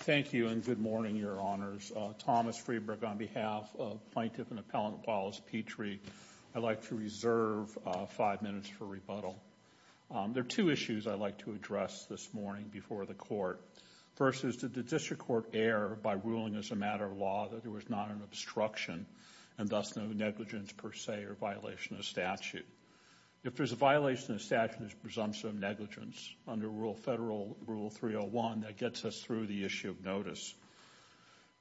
Thank you and good morning, Your Honors. Thomas Freeburg on behalf of Plaintiff and Appellant Wallace Petrie. I'd like to reserve five minutes for rebuttal. There are two issues I'd like to address this morning before the Court. First is did the District Court err by ruling as a matter of law that there was not an obstruction and thus no negligence per se or violation of statute? If there's a violation of statute, there's presumption of negligence under Federal Rule 301 that gets us through the issue of notice.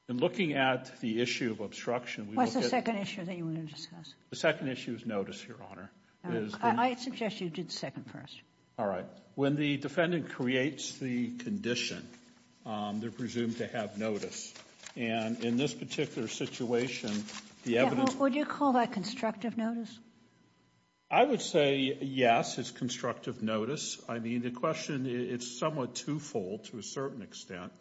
In looking at the issue of obstruction, we look at- What's the second issue that you want to discuss? The second issue is notice, Your Honor. I suggest you do the second first. All right. When the defendant creates the condition, they're presumed to have notice. And in this particular situation, the evidence- Would you call that constructive notice? I would say yes, it's constructive notice. I mean, the question, it's somewhat twofold to a certain extent.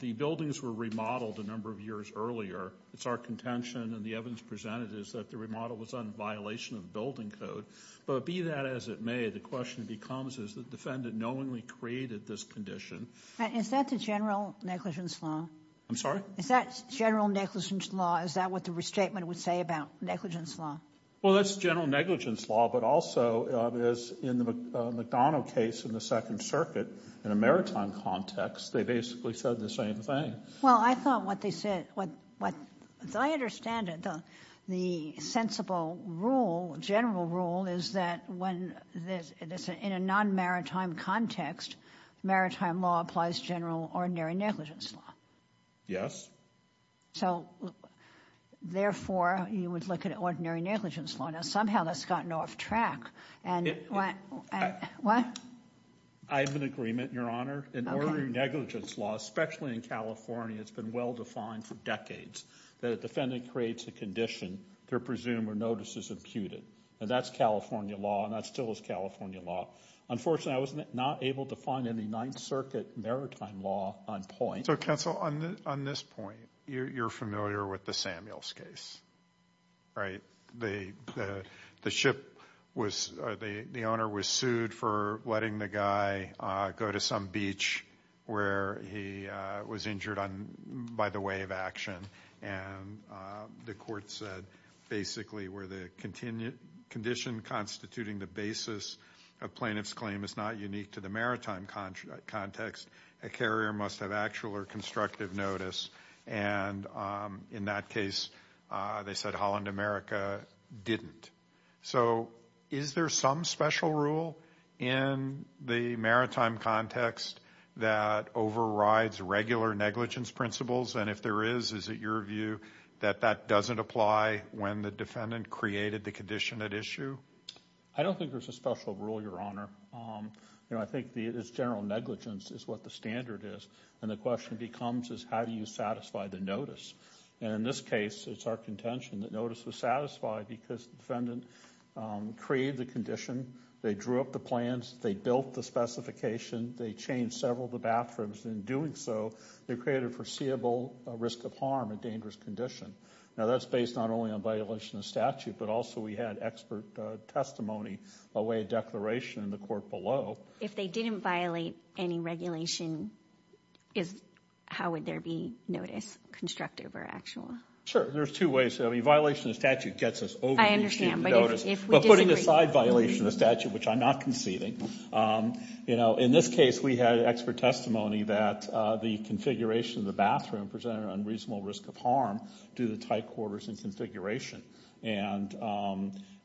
The buildings were remodeled a number of years earlier. It's our contention and the evidence presented is that the remodel was on violation of building code. But be that as it may, the question becomes, has the defendant knowingly created this condition? Is that the general negligence law? I'm sorry? Is that general negligence law? Is that what the restatement would say about negligence law? Well, that's general negligence law, but also, as in the McDonough case in the Second Circuit, in a maritime context, they basically said the same thing. Well, I thought what they said- What I understand, the sensible rule, general rule, is that when there's- In a non-maritime context, maritime law applies general, ordinary negligence law. Yes. So, therefore, you would look at ordinary negligence law. Now, somehow, that's gotten off track and- What? I have an agreement, Your Honor. In ordinary negligence law, especially in California, it's been well-defined for decades that a defendant creates a condition, they're presumed or notice is imputed. That's California law and that still is California law. Unfortunately, I was not able to find any Ninth Circuit maritime law on point. So, counsel, on this point, you're familiar with the Samuels case, right? The ship was- The owner was sued for letting the guy go to some beach where he was injured by the way of action and the court said, basically, where the condition constituting the basis of plaintiff's claim is not unique to the maritime context, a carrier must have actual or constructive notice. And in that case, they said Holland America didn't. So, is there some special rule in the maritime context that overrides regular negligence principles? And if there is, is it your view that that doesn't apply when the defendant created the condition at issue? I don't think there's a special rule, Your Honor. I think it's general negligence is what the standard is. And the question becomes is how do you satisfy the notice? And in this case, it's our contention that notice was satisfied because the defendant created the condition, they drew up the plans, they built the specification, they changed several of the bathrooms and in doing so, they created foreseeable risk of harm and dangerous condition. Now, that's based not only on violation of statute, but also we had expert testimony by way of declaration in the court below. If they didn't violate any regulation, how would there be notice constructive or actual? Sure. There's two ways. I mean, violation of statute gets us over the receipt of the notice. I understand, but if we disagree. But putting aside violation of statute, which I'm not conceding, you know, in this case, we had expert testimony that the configuration of the bathroom presented an unreasonable risk of harm due to the tight quarters and configuration. And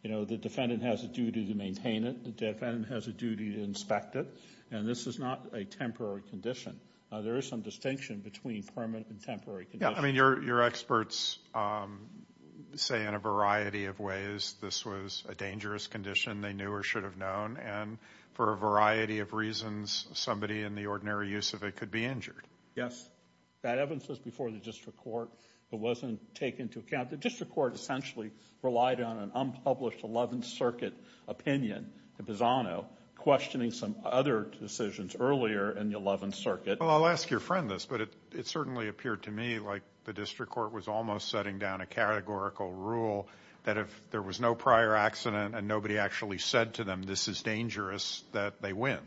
you know, the defendant has a duty to maintain it. The defendant has a duty to inspect it. And this is not a temporary condition. There is some distinction between permanent and temporary conditions. Yeah. I mean, your experts say in a variety of ways this was a dangerous condition they knew or should have known and for a variety of reasons, somebody in the ordinary use of it could be injured. Yes. But that evidence was before the district court. It wasn't taken into account. The district court essentially relied on an unpublished 11th Circuit opinion, the Bizzano, questioning some other decisions earlier in the 11th Circuit. Well, I'll ask your friend this, but it certainly appeared to me like the district court was almost setting down a categorical rule that if there was no prior accident and nobody actually said to them, this is dangerous, that they win.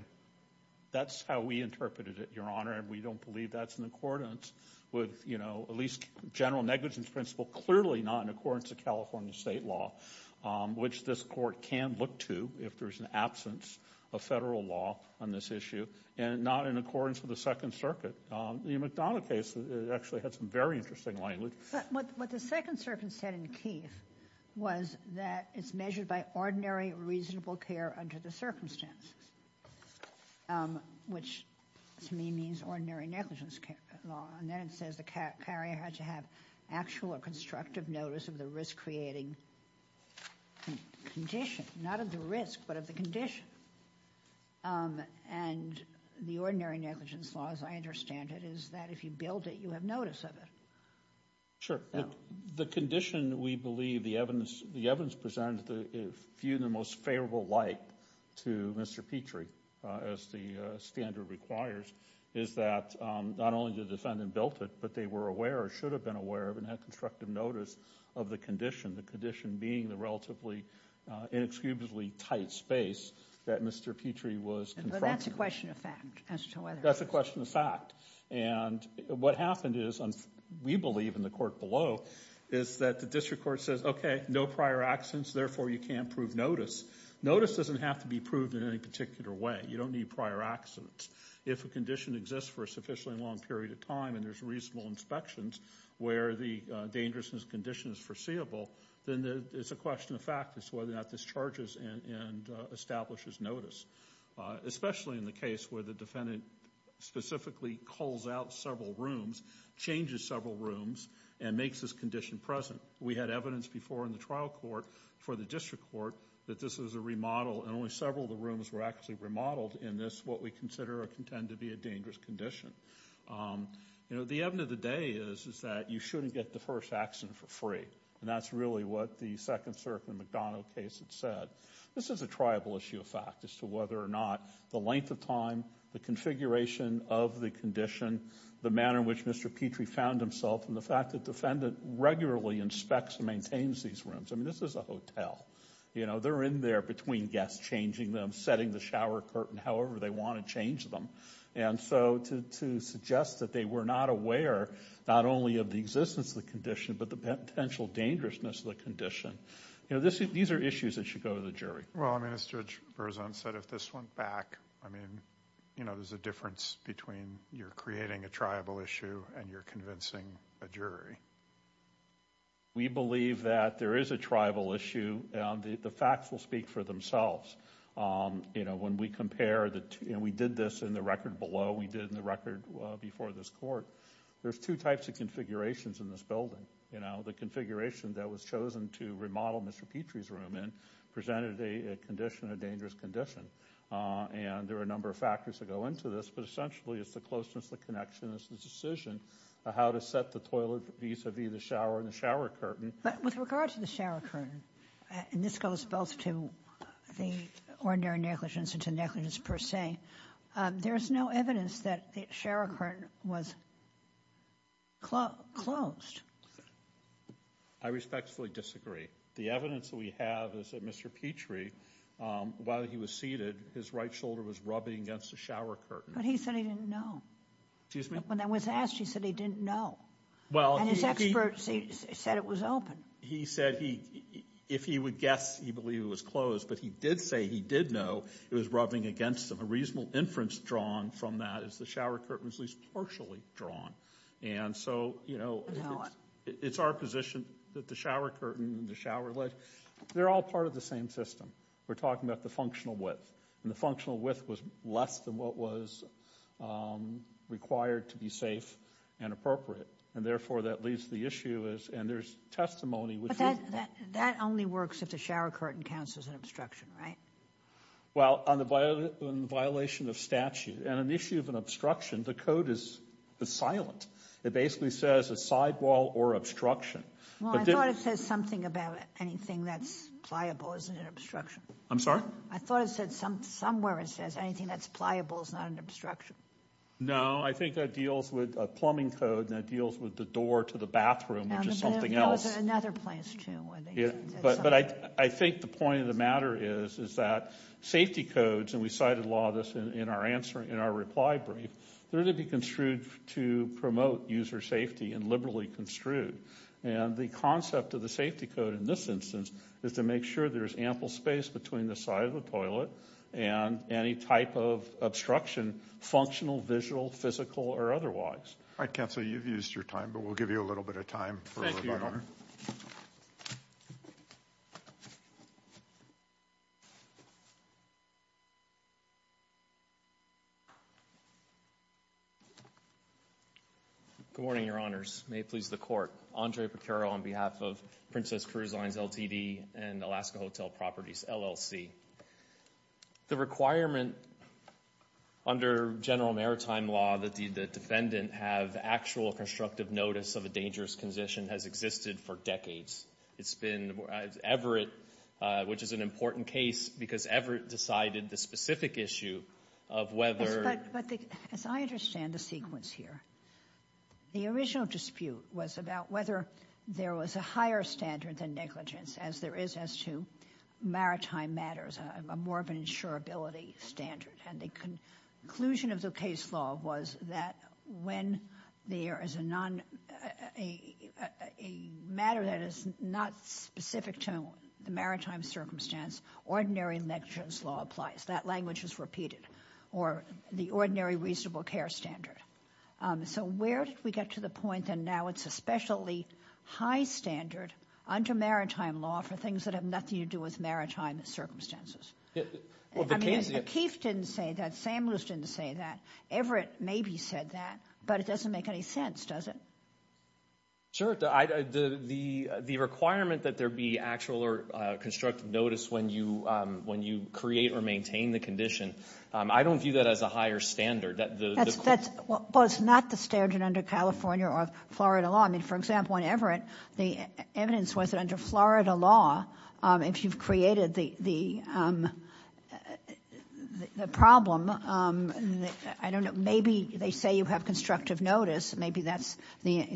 That's how we interpreted it, Your Honor. And we don't believe that's in accordance with, you know, at least general negligence principle. Clearly not in accordance with California state law, which this court can look to if there's an absence of federal law on this issue and not in accordance with the Second Circuit. The McDonough case actually had some very interesting language. But what the Second Circuit said in Keith was that it's measured by ordinary reasonable care under the circumstances, which to me means ordinary negligence law. And then it says the carrier had to have actual or constructive notice of the risk-creating condition. Not of the risk, but of the condition. And the ordinary negligence law, as I understand it, is that if you build it, you have notice of it. Sure. The condition, we believe, the evidence presented, viewed in the most favorable light to Mr. Petrie, as the standard requires, is that not only did the defendant build it, but they were aware or should have been aware of and had constructive notice of the condition, the condition being the relatively inexcusably tight space that Mr. Petrie was confronted That's a question of fact. That's a question of fact. And what happened is, we believe in the court below, is that the district court says, okay, no prior accidents, therefore you can't prove notice. Notice doesn't have to be proved in any particular way. You don't need prior accidents. If a condition exists for a sufficiently long period of time and there's reasonable inspections where the dangerousness condition is foreseeable, then it's a question of fact as to whether or not this charges and establishes notice. Especially in the case where the defendant specifically calls out several rooms, changes several rooms, and makes this condition present. We had evidence before in the trial court for the district court that this is a remodel and only several of the rooms were actually remodeled in this, what we consider or contend to be a dangerous condition. The evidence of the day is that you shouldn't get the first accident for free. That's really what the second circuit in the McDonald case had said. This is a triable issue of fact as to whether or not the length of time, the configuration of the condition, the manner in which Mr. Petrie found himself, and the fact that defendant regularly inspects and maintains these rooms. I mean, this is a hotel. You know, they're in there between guests, changing them, setting the shower curtain however they want to change them. And so, to suggest that they were not aware, not only of the existence of the condition, but the potential dangerousness of the condition. You know, these are issues that should go to the jury. Well, I mean, as Judge Berzon said, if this went back, I mean, you know, there's a difference between you're creating a triable issue and you're convincing a jury. We believe that there is a triable issue. The facts will speak for themselves. You know, when we compare the two, and we did this in the record below, we did in the record before this court, there's two types of configurations in this building. You know, the configuration that was chosen to remodel Mr. Petrie's room in presented a condition, a dangerous condition. And there are a number of factors that go into this, but essentially it's the closeness, the connection, it's the decision of how to set the toilet vis-a-vis the shower and the shower curtain. But with regard to the shower curtain, and this goes both to the ordinary negligence and to negligence per se, there's no evidence that the shower curtain was closed. I respectfully disagree. The evidence that we have is that Mr. Petrie, while he was seated, his right shoulder was rubbing against the shower curtain. But he said he didn't know. Excuse me? When that was asked, he said he didn't know. And his experts said it was open. He said he, if he would guess, he believed it was closed, but he did say he did know it was rubbing against him. A reasonable inference drawn from that is the shower curtain was at least partially drawn. And so, you know, it's our position that the shower curtain and the shower lid, they're all part of the same system. We're talking about the functional width. And the functional width was less than what was required to be safe and appropriate. And therefore, that leaves the issue as, and there's testimony which would. That only works if the shower curtain counts as an obstruction, right? Well, on the violation of statute and an issue of an obstruction, the code is silent. It basically says a sidewall or obstruction. Well, I thought it says something about anything that's pliable isn't an obstruction. I'm sorry? I thought it said somewhere it says anything that's pliable is not an obstruction. No, I think that deals with a plumbing code and that deals with the door to the bathroom, which is something else. That was another place, too, where they said something. But I think the point of the matter is that safety codes, and we cited a lot of this in our reply brief, they're to be construed to promote user safety and liberally construed. And the concept of the safety code in this instance is to make sure there's ample space between the side of the toilet and any type of obstruction, functional, visual, physical, or otherwise. All right, Counselor, you've used your time, but we'll give you a little bit of time for Thank you, Your Honor. Good morning, Your Honors. May it please the Court. Andre Pecoro on behalf of Princess Cruise Lines LTD and Alaska Hotel Properties LLC. The requirement under general maritime law that the defendant have actual constructive notice of a dangerous condition has existed for decades. It's been Everett, which is an important case because Everett decided the specific issue of whether But as I understand the sequence here, the original dispute was about whether there was a higher standard than negligence as there is as to maritime matters, a more of an insurability standard. And the conclusion of the case law was that when there is a matter that is not specific to the maritime circumstance, ordinary negligence law applies. That language is repeated. Or the ordinary reasonable care standard. So where did we get to the point that now it's especially high standard under maritime law for things that have nothing to do with maritime circumstances? I mean, Akeef didn't say that, Sam Luce didn't say that, Everett maybe said that, but it doesn't make any sense, does it? Sure. The requirement that there be actual or constructive notice when you create or maintain the condition, I don't view that as a higher standard. Well, it's not the standard under California or Florida law. I mean, for example, on Everett, the evidence was that under Florida law, if you've created the problem, I don't know, maybe they say you have constructive notice. Maybe that's the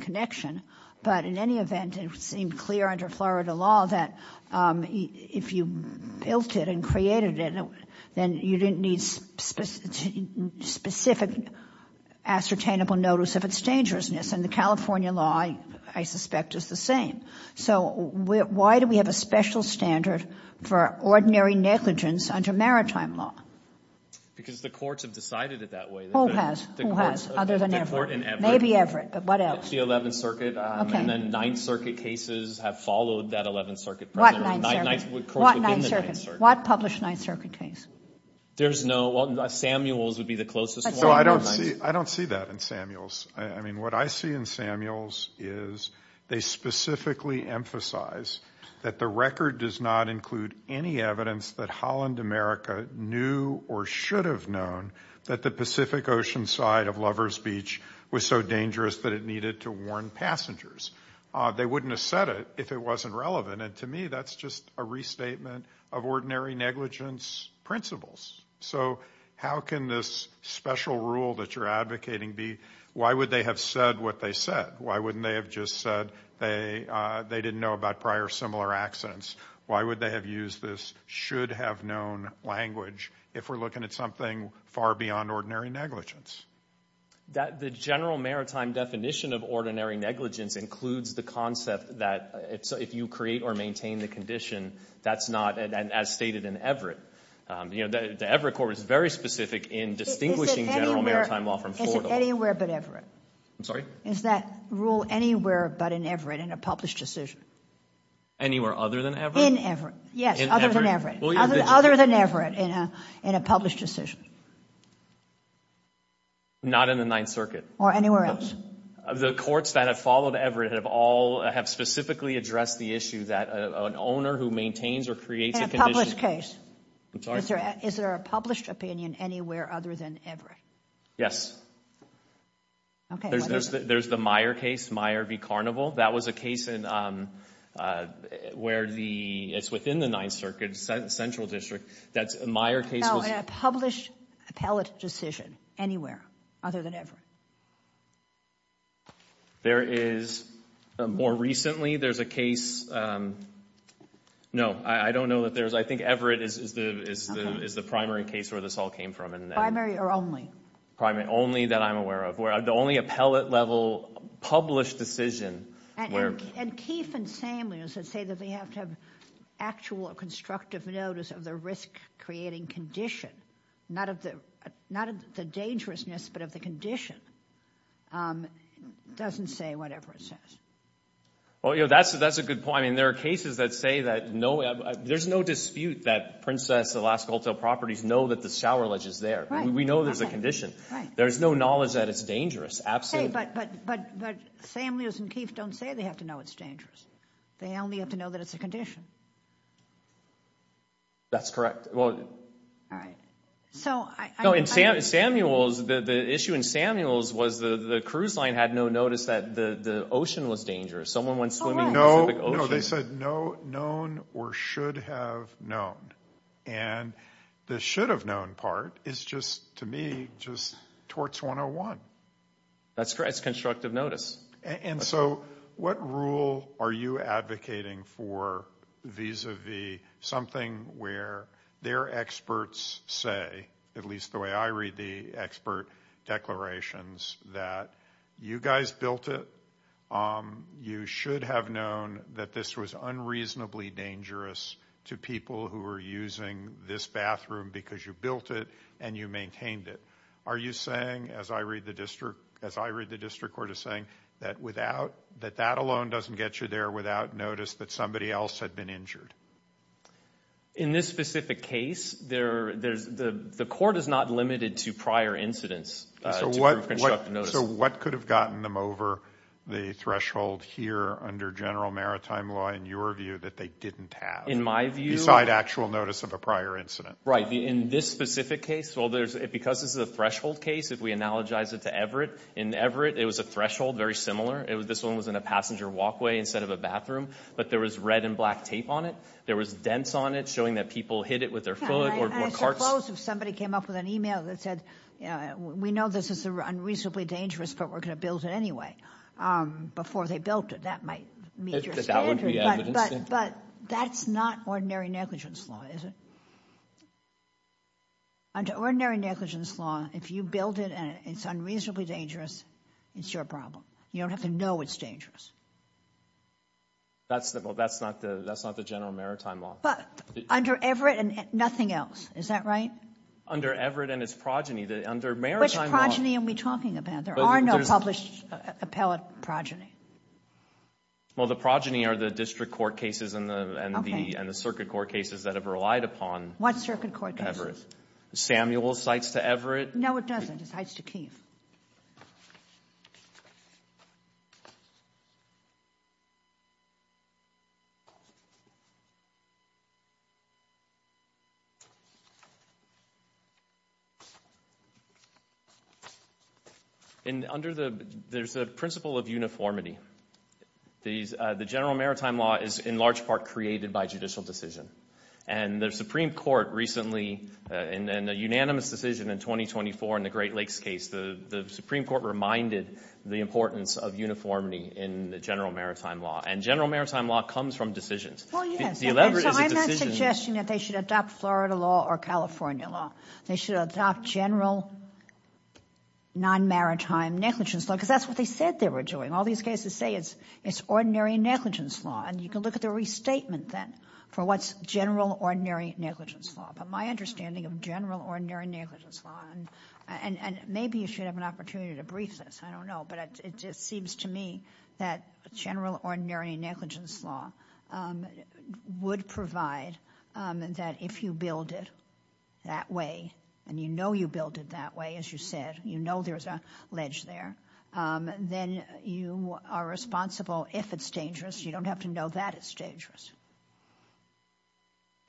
connection. But in any event, it seemed clear under Florida law that if you built it and created it, then you didn't need specific ascertainable notice of its dangerousness. And the California law, I suspect, is the same. So why do we have a special standard for ordinary negligence under maritime law? Because the courts have decided it that way. Who has? Who has? Other than Everett. Maybe Everett, but what else? The 11th Circuit, and then 9th Circuit cases have followed that 11th Circuit. What 9th Circuit? What 9th Circuit? What published 9th Circuit case? There's no, well, Samuels would be the closest one. So I don't see that in Samuels. I mean, what I see in Samuels is they specifically emphasize that the record does not include any evidence that Holland America knew or should have known that the Pacific Ocean side of Lover's Beach was so dangerous that it needed to warn passengers. They wouldn't have said it if it wasn't relevant. And to me, that's just a restatement of ordinary negligence principles. So how can this special rule that you're advocating be? Why would they have said what they said? Why wouldn't they have just said they didn't know about prior similar accidents? Why would they have used this should have known language if we're looking at something far beyond ordinary negligence? The general maritime definition of ordinary negligence includes the concept that if you create or maintain the condition, that's not, as stated in Everett, the Everett court is very specific in distinguishing general maritime law from Florida. Is it anywhere but Everett? I'm sorry? Is that rule anywhere but in Everett in a published decision? Anywhere other than Everett? In Everett. Yes. Other than Everett. Other than Everett in a published decision. Not in the 9th Circuit. Or anywhere else? The courts that have followed Everett have all, have specifically addressed the issue that an owner who maintains or creates a condition. In a published case. I'm sorry? Is there a published opinion anywhere other than Everett? Yes. Okay. There's the Meyer case, Meyer v. Carnival. That was a case where the, it's within the 9th Circuit, Central District, that Meyer case was. Is there a published appellate decision anywhere other than Everett? There is, more recently, there's a case, no, I don't know that there's, I think Everett is the primary case where this all came from. Primary or only? Only that I'm aware of. The only appellate level published decision where. And Keefe and Samuels that say that they have to have actual constructive notice of the creating condition, not of the dangerousness, but of the condition, doesn't say whatever it says. Well, you know, that's a good point. I mean, there are cases that say that no, there's no dispute that Princess Alaska Hotel properties know that the shower ledge is there. We know there's a condition. There's no knowledge that it's dangerous. Absolutely. Hey, but Samuels and Keefe don't say they have to know it's dangerous. They only have to know that it's a condition. That's correct. All right. So, I. No, in Samuels, the issue in Samuels was the cruise line had no notice that the ocean was dangerous. Someone went swimming in the Pacific Ocean. No, no. They said no known or should have known. And the should have known part is just, to me, just torts 101. That's correct. It's constructive notice. And so, what rule are you advocating for vis-a-vis something where their experts say, at least the way I read the expert declarations, that you guys built it. You should have known that this was unreasonably dangerous to people who are using this bathroom because you built it and you maintained it. Are you saying, as I read the district court is saying, that that alone doesn't get you there without notice that somebody else had been injured? In this specific case, the court is not limited to prior incidents to prove constructive notice. So, what could have gotten them over the threshold here under general maritime law, in your view, that they didn't have? In my view. Beside actual notice of a prior incident. Right. In this specific case, because this is a threshold case, if we analogize it to Everett, in Everett, it was a threshold, very similar. This one was in a passenger walkway instead of a bathroom. But there was red and black tape on it. There was dents on it showing that people hit it with their foot or carts. I suppose if somebody came up with an email that said, we know this is unreasonably dangerous, but we're going to build it anyway, before they built it, that might meet your standard. But that's not ordinary negligence law, is it? Under ordinary negligence law, if you build it and it's unreasonably dangerous, it's your problem. You don't have to know it's dangerous. That's not the general maritime law. Under Everett and nothing else. Is that right? Under Everett and its progeny, under maritime law. Which progeny are we talking about? There are no published appellate progeny. Well, the progeny are the district court cases and the circuit court cases that have relied upon Everett. What circuit court cases? Samuel cites to Everett. No, it doesn't. It cites to Keefe. There's a principle of uniformity. The general maritime law is in large part created by judicial decision. And the Supreme Court recently, in a unanimous decision in 2024 in the Great Lakes case, the Supreme Court reminded the importance of uniformity in the general maritime law. And general maritime law comes from decisions. Well, yes. So I'm not suggesting that they should adopt Florida law or California law. They should adopt general non-maritime negligence law because that's what they said they were doing. All these cases say it's ordinary negligence law. And you can look at the restatement then for what's general ordinary negligence law. But my understanding of general ordinary negligence law, and maybe you should have an opportunity to brief this. I don't know. But it seems to me that general ordinary negligence law would provide that if you build it that way, and you know you build it that way, as you said, you know there's a ledge there, then you are responsible if it's dangerous. You don't have to know that it's dangerous.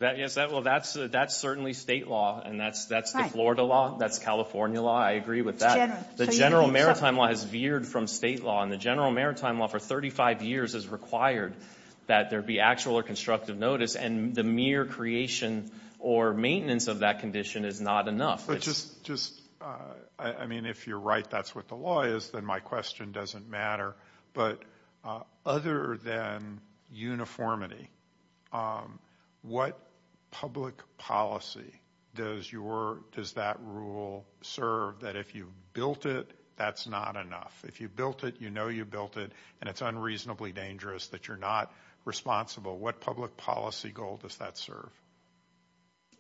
Well, that's certainly state law. And that's the Florida law. That's California law. I agree with that. The general maritime law has veered from state law. And the general maritime law for 35 years has required that there be actual or constructive notice, and the mere creation or maintenance of that condition is not enough. But just, I mean, if you're right that's what the law is, then my question doesn't matter. But other than uniformity, what public policy does that rule serve that if you built it, that's not enough? If you built it, you know you built it, and it's unreasonably dangerous that you're not responsible. What public policy goal does that serve?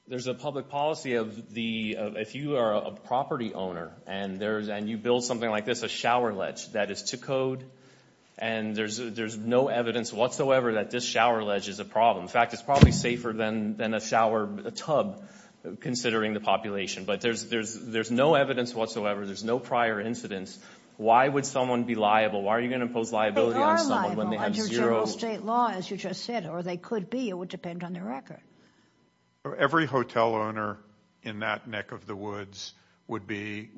There's a public policy of if you are a property owner and you build something like this, a shower ledge that is to code, and there's no evidence whatsoever that this shower ledge is a problem. In fact, it's probably safer than a shower tub, considering the population. But there's no evidence whatsoever. There's no prior incidents. Why would someone be liable? Why are you going to impose liability on someone when they have zero? They are liable under general state law, as you just said, or they could be. It would depend on the record. Every hotel owner in that neck of the woods would be,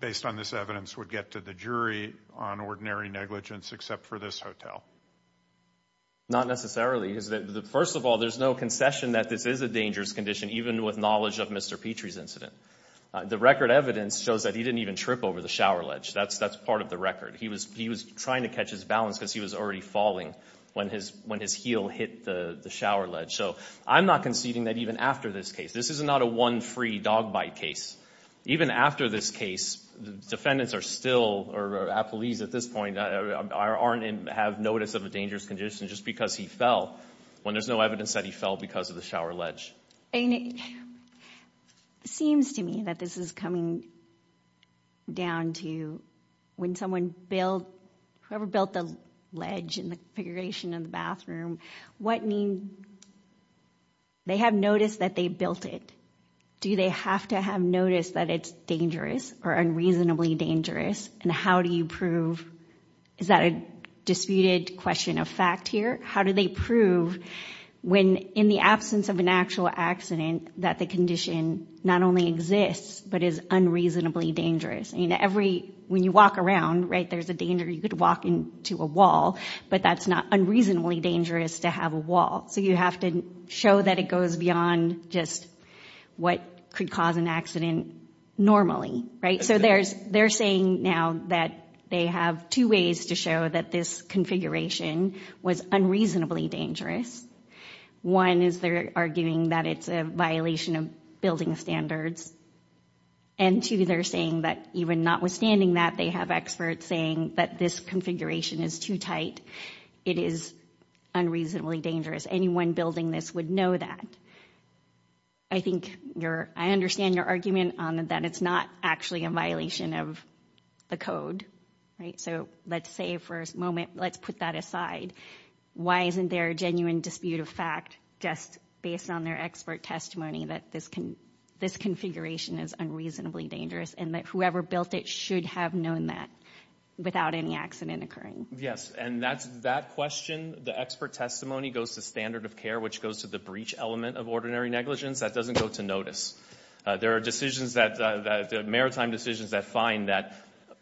based on this evidence, would get to the jury on ordinary negligence except for this hotel. Not necessarily. First of all, there's no concession that this is a dangerous condition, even with knowledge of Mr. Petrie's incident. The record evidence shows that he didn't even trip over the shower ledge. That's part of the record. He was trying to catch his balance because he was already falling when his heel hit the shower ledge. I'm not conceding that even after this case. This is not a one-free-dog-bite case. Even after this case, defendants are still, or apologies at this point, have notice of a dangerous condition just because he fell when there's no evidence that he fell because of the shower ledge. It seems to me that this is coming down to when someone built, whoever built the ledge and the configuration of the bathroom, they have noticed that they built it. Do they have to have noticed that it's dangerous or unreasonably dangerous? And how do you prove? Is that a disputed question of fact here? How do they prove when, in the absence of an actual accident, that the condition not only exists but is unreasonably dangerous? When you walk around, there's a danger you could walk into a wall, but that's not unreasonably dangerous to have a wall. So you have to show that it goes beyond just what could cause an accident normally, right? So they're saying now that they have two ways to show that this configuration was unreasonably dangerous. One is they're arguing that it's a violation of building standards. And two, they're saying that even notwithstanding that, they have experts saying that this configuration is too tight. It is unreasonably dangerous. Anyone building this would know that. I think your—I understand your argument on that it's not actually a violation of the code, right? So let's say for a moment, let's put that aside. Why isn't there a genuine dispute of fact just based on their expert testimony that this configuration is unreasonably dangerous and that whoever built it should have known that without any accident occurring? Yes, and that question, the expert testimony, goes to standard of care, which goes to the breach element of ordinary negligence. That doesn't go to notice. There are decisions that—maritime decisions that find that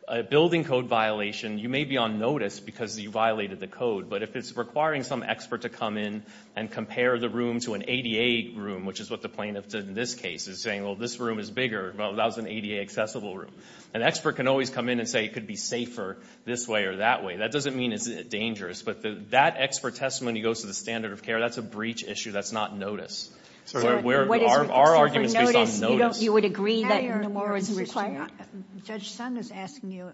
a building code violation, you may be on notice because you violated the code, but if it's requiring some expert to come in and compare the room to an ADA room, which is what the plaintiff did in this case, is saying, well, this room is bigger. Well, that was an ADA accessible room. An expert can always come in and say it could be safer this way or that way. That doesn't mean it's dangerous, but that expert testimony goes to the standard of care. That's a breach issue. That's not notice. Our argument is based on notice. You would agree that no more was required? Judge Sund is asking you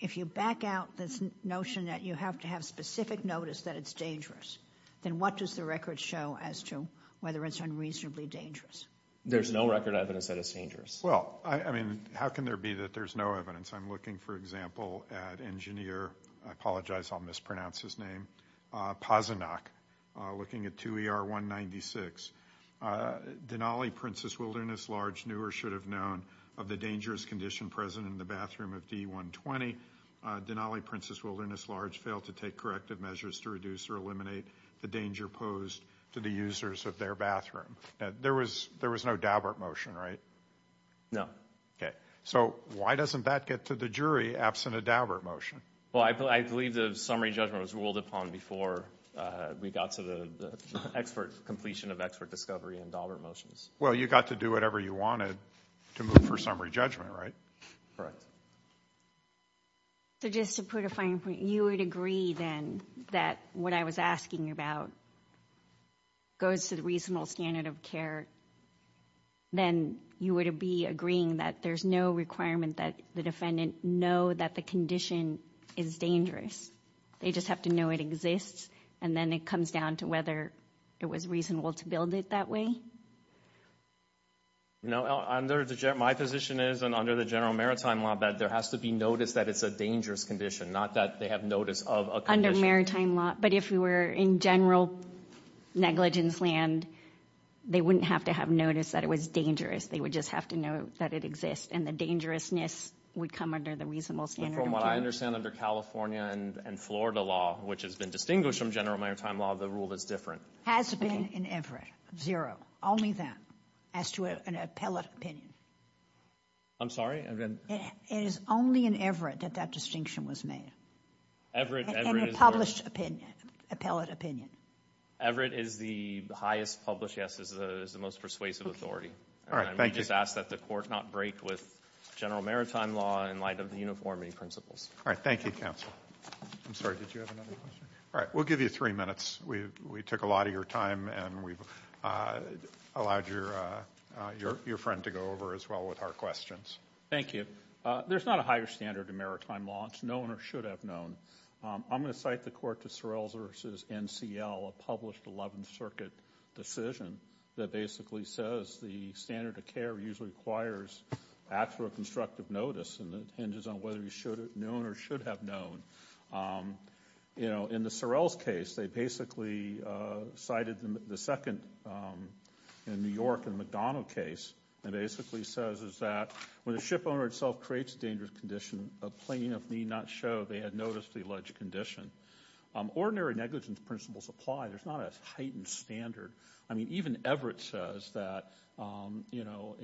if you back out this notion that you have to have specific notice that it's dangerous, then what does the record show as to whether it's unreasonably dangerous? There's no record evidence that it's dangerous. Well, I mean, how can there be that there's no evidence? I'm looking, for example, at engineer—I apologize, I'll mispronounce his name—Pazinok, looking at 2 ER 196. Denali, Princess Wilderness Large, knew or should have known of the dangerous condition present in the bathroom of D120. Denali, Princess Wilderness Large, failed to take corrective measures to reduce or eliminate the danger posed to the users of their bathroom. There was no Daubert motion, right? No. Okay. So why doesn't that get to the jury absent a Daubert motion? Well, I believe the summary judgment was ruled upon before we got to the completion of expert discovery and Daubert motions. Well, you got to do whatever you wanted to move for summary judgment, right? Correct. So just to put a fine point, you would agree then that what I was asking about goes to the reasonable standard of care, then you would be agreeing that there's no requirement that the defendant know that the condition is dangerous. They just have to know it exists, and then it comes down to whether it was reasonable to build it that way? No. My position is under the general maritime law that there has to be notice that it's a dangerous condition, not that they have notice of a condition. Under maritime law. But if we were in general negligence land, they wouldn't have to have noticed that it was dangerous. They would just have to know that it exists, and the dangerousness would come under the reasonable standard of care. But from what I understand under California and Florida law, which has been distinguished from general maritime law, the rule is different. Has been in Everett. Zero. Only that. As to an appellate opinion. I'm sorry? It is only in Everett that that distinction was made. Everett is the highest published, yes, is the most persuasive authority. All right. Thank you. And we just ask that the court not break with general maritime law in light of the uniformity principles. All right. Thank you, counsel. I'm sorry. Did you have another question? All right. We'll give you three minutes. We took a lot of your time, and we've allowed your friend to go over as well with our questions. Thank you. There's not a higher standard in maritime law. It's known or should have known. I'm going to cite the court to Sorrell's versus NCL, a published 11th Circuit decision that basically says the standard of care usually requires actual constructive notice, and it hinges on whether you should have known or should have known. You know, in the Sorrell's case, they basically cited the second in New York in the McDonough case, and it basically says that when the ship owner itself creates a dangerous condition, a plaintiff need not show they had noticed the alleged condition. Ordinary negligence principles apply. There's not a heightened standard. I mean, even Everett says that, you know,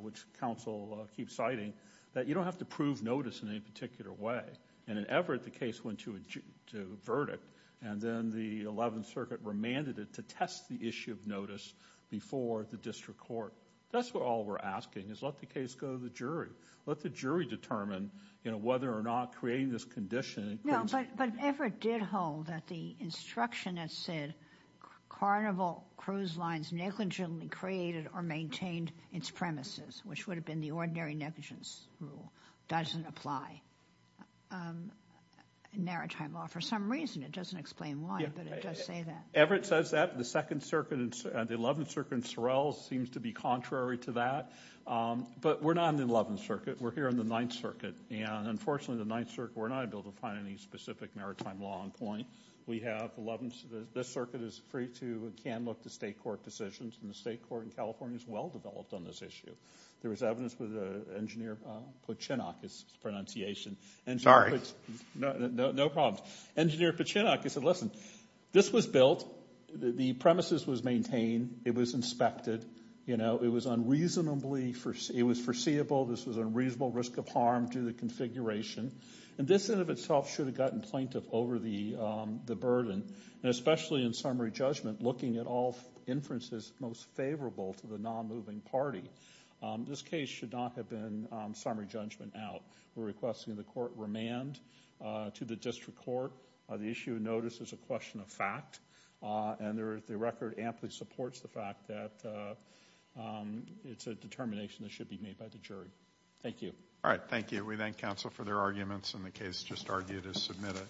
which counsel keeps citing, that you don't have to prove notice in any particular way. And in Everett, the case went to a verdict, and then the 11th Circuit remanded it to test the issue of notice before the district court. That's what all we're asking is let the case go to the jury. Let the jury determine, you know, whether or not creating this condition. No, but Everett did hold that the instruction that said Carnival Cruise Lines negligently created or maintained its premises, which would have been the ordinary negligence rule, doesn't apply in maritime law for some reason. It doesn't explain why, but it does say that. Everett says that, but the second circuit, the 11th Circuit in Sorrell seems to be contrary to that. But we're not in the 11th Circuit. We're here in the 9th Circuit. And unfortunately, the 9th Circuit, we're not able to find any specific maritime law on point. We have the 11th. This circuit is free to and can look to state court decisions, and the state court in California is well-developed on this issue. There was evidence with Engineer Pochenok's pronunciation. Sorry. No problem. Engineer Pochenok, he said, listen, this was built. The premises was maintained. It was inspected. You know, it was unreasonably, it was foreseeable. This was a reasonable risk of harm to the configuration. And this in and of itself should have gotten plaintiff over the burden, and especially in summary judgment, looking at all inferences most favorable to the non-moving party. This case should not have been summary judgment out. We're requesting the court remand to the district court. The issue of notice is a question of fact, and the record amply supports the fact that it's a determination that should be made by the jury. Thank you. All right, thank you. We thank counsel for their arguments, and the case just argued is submitted.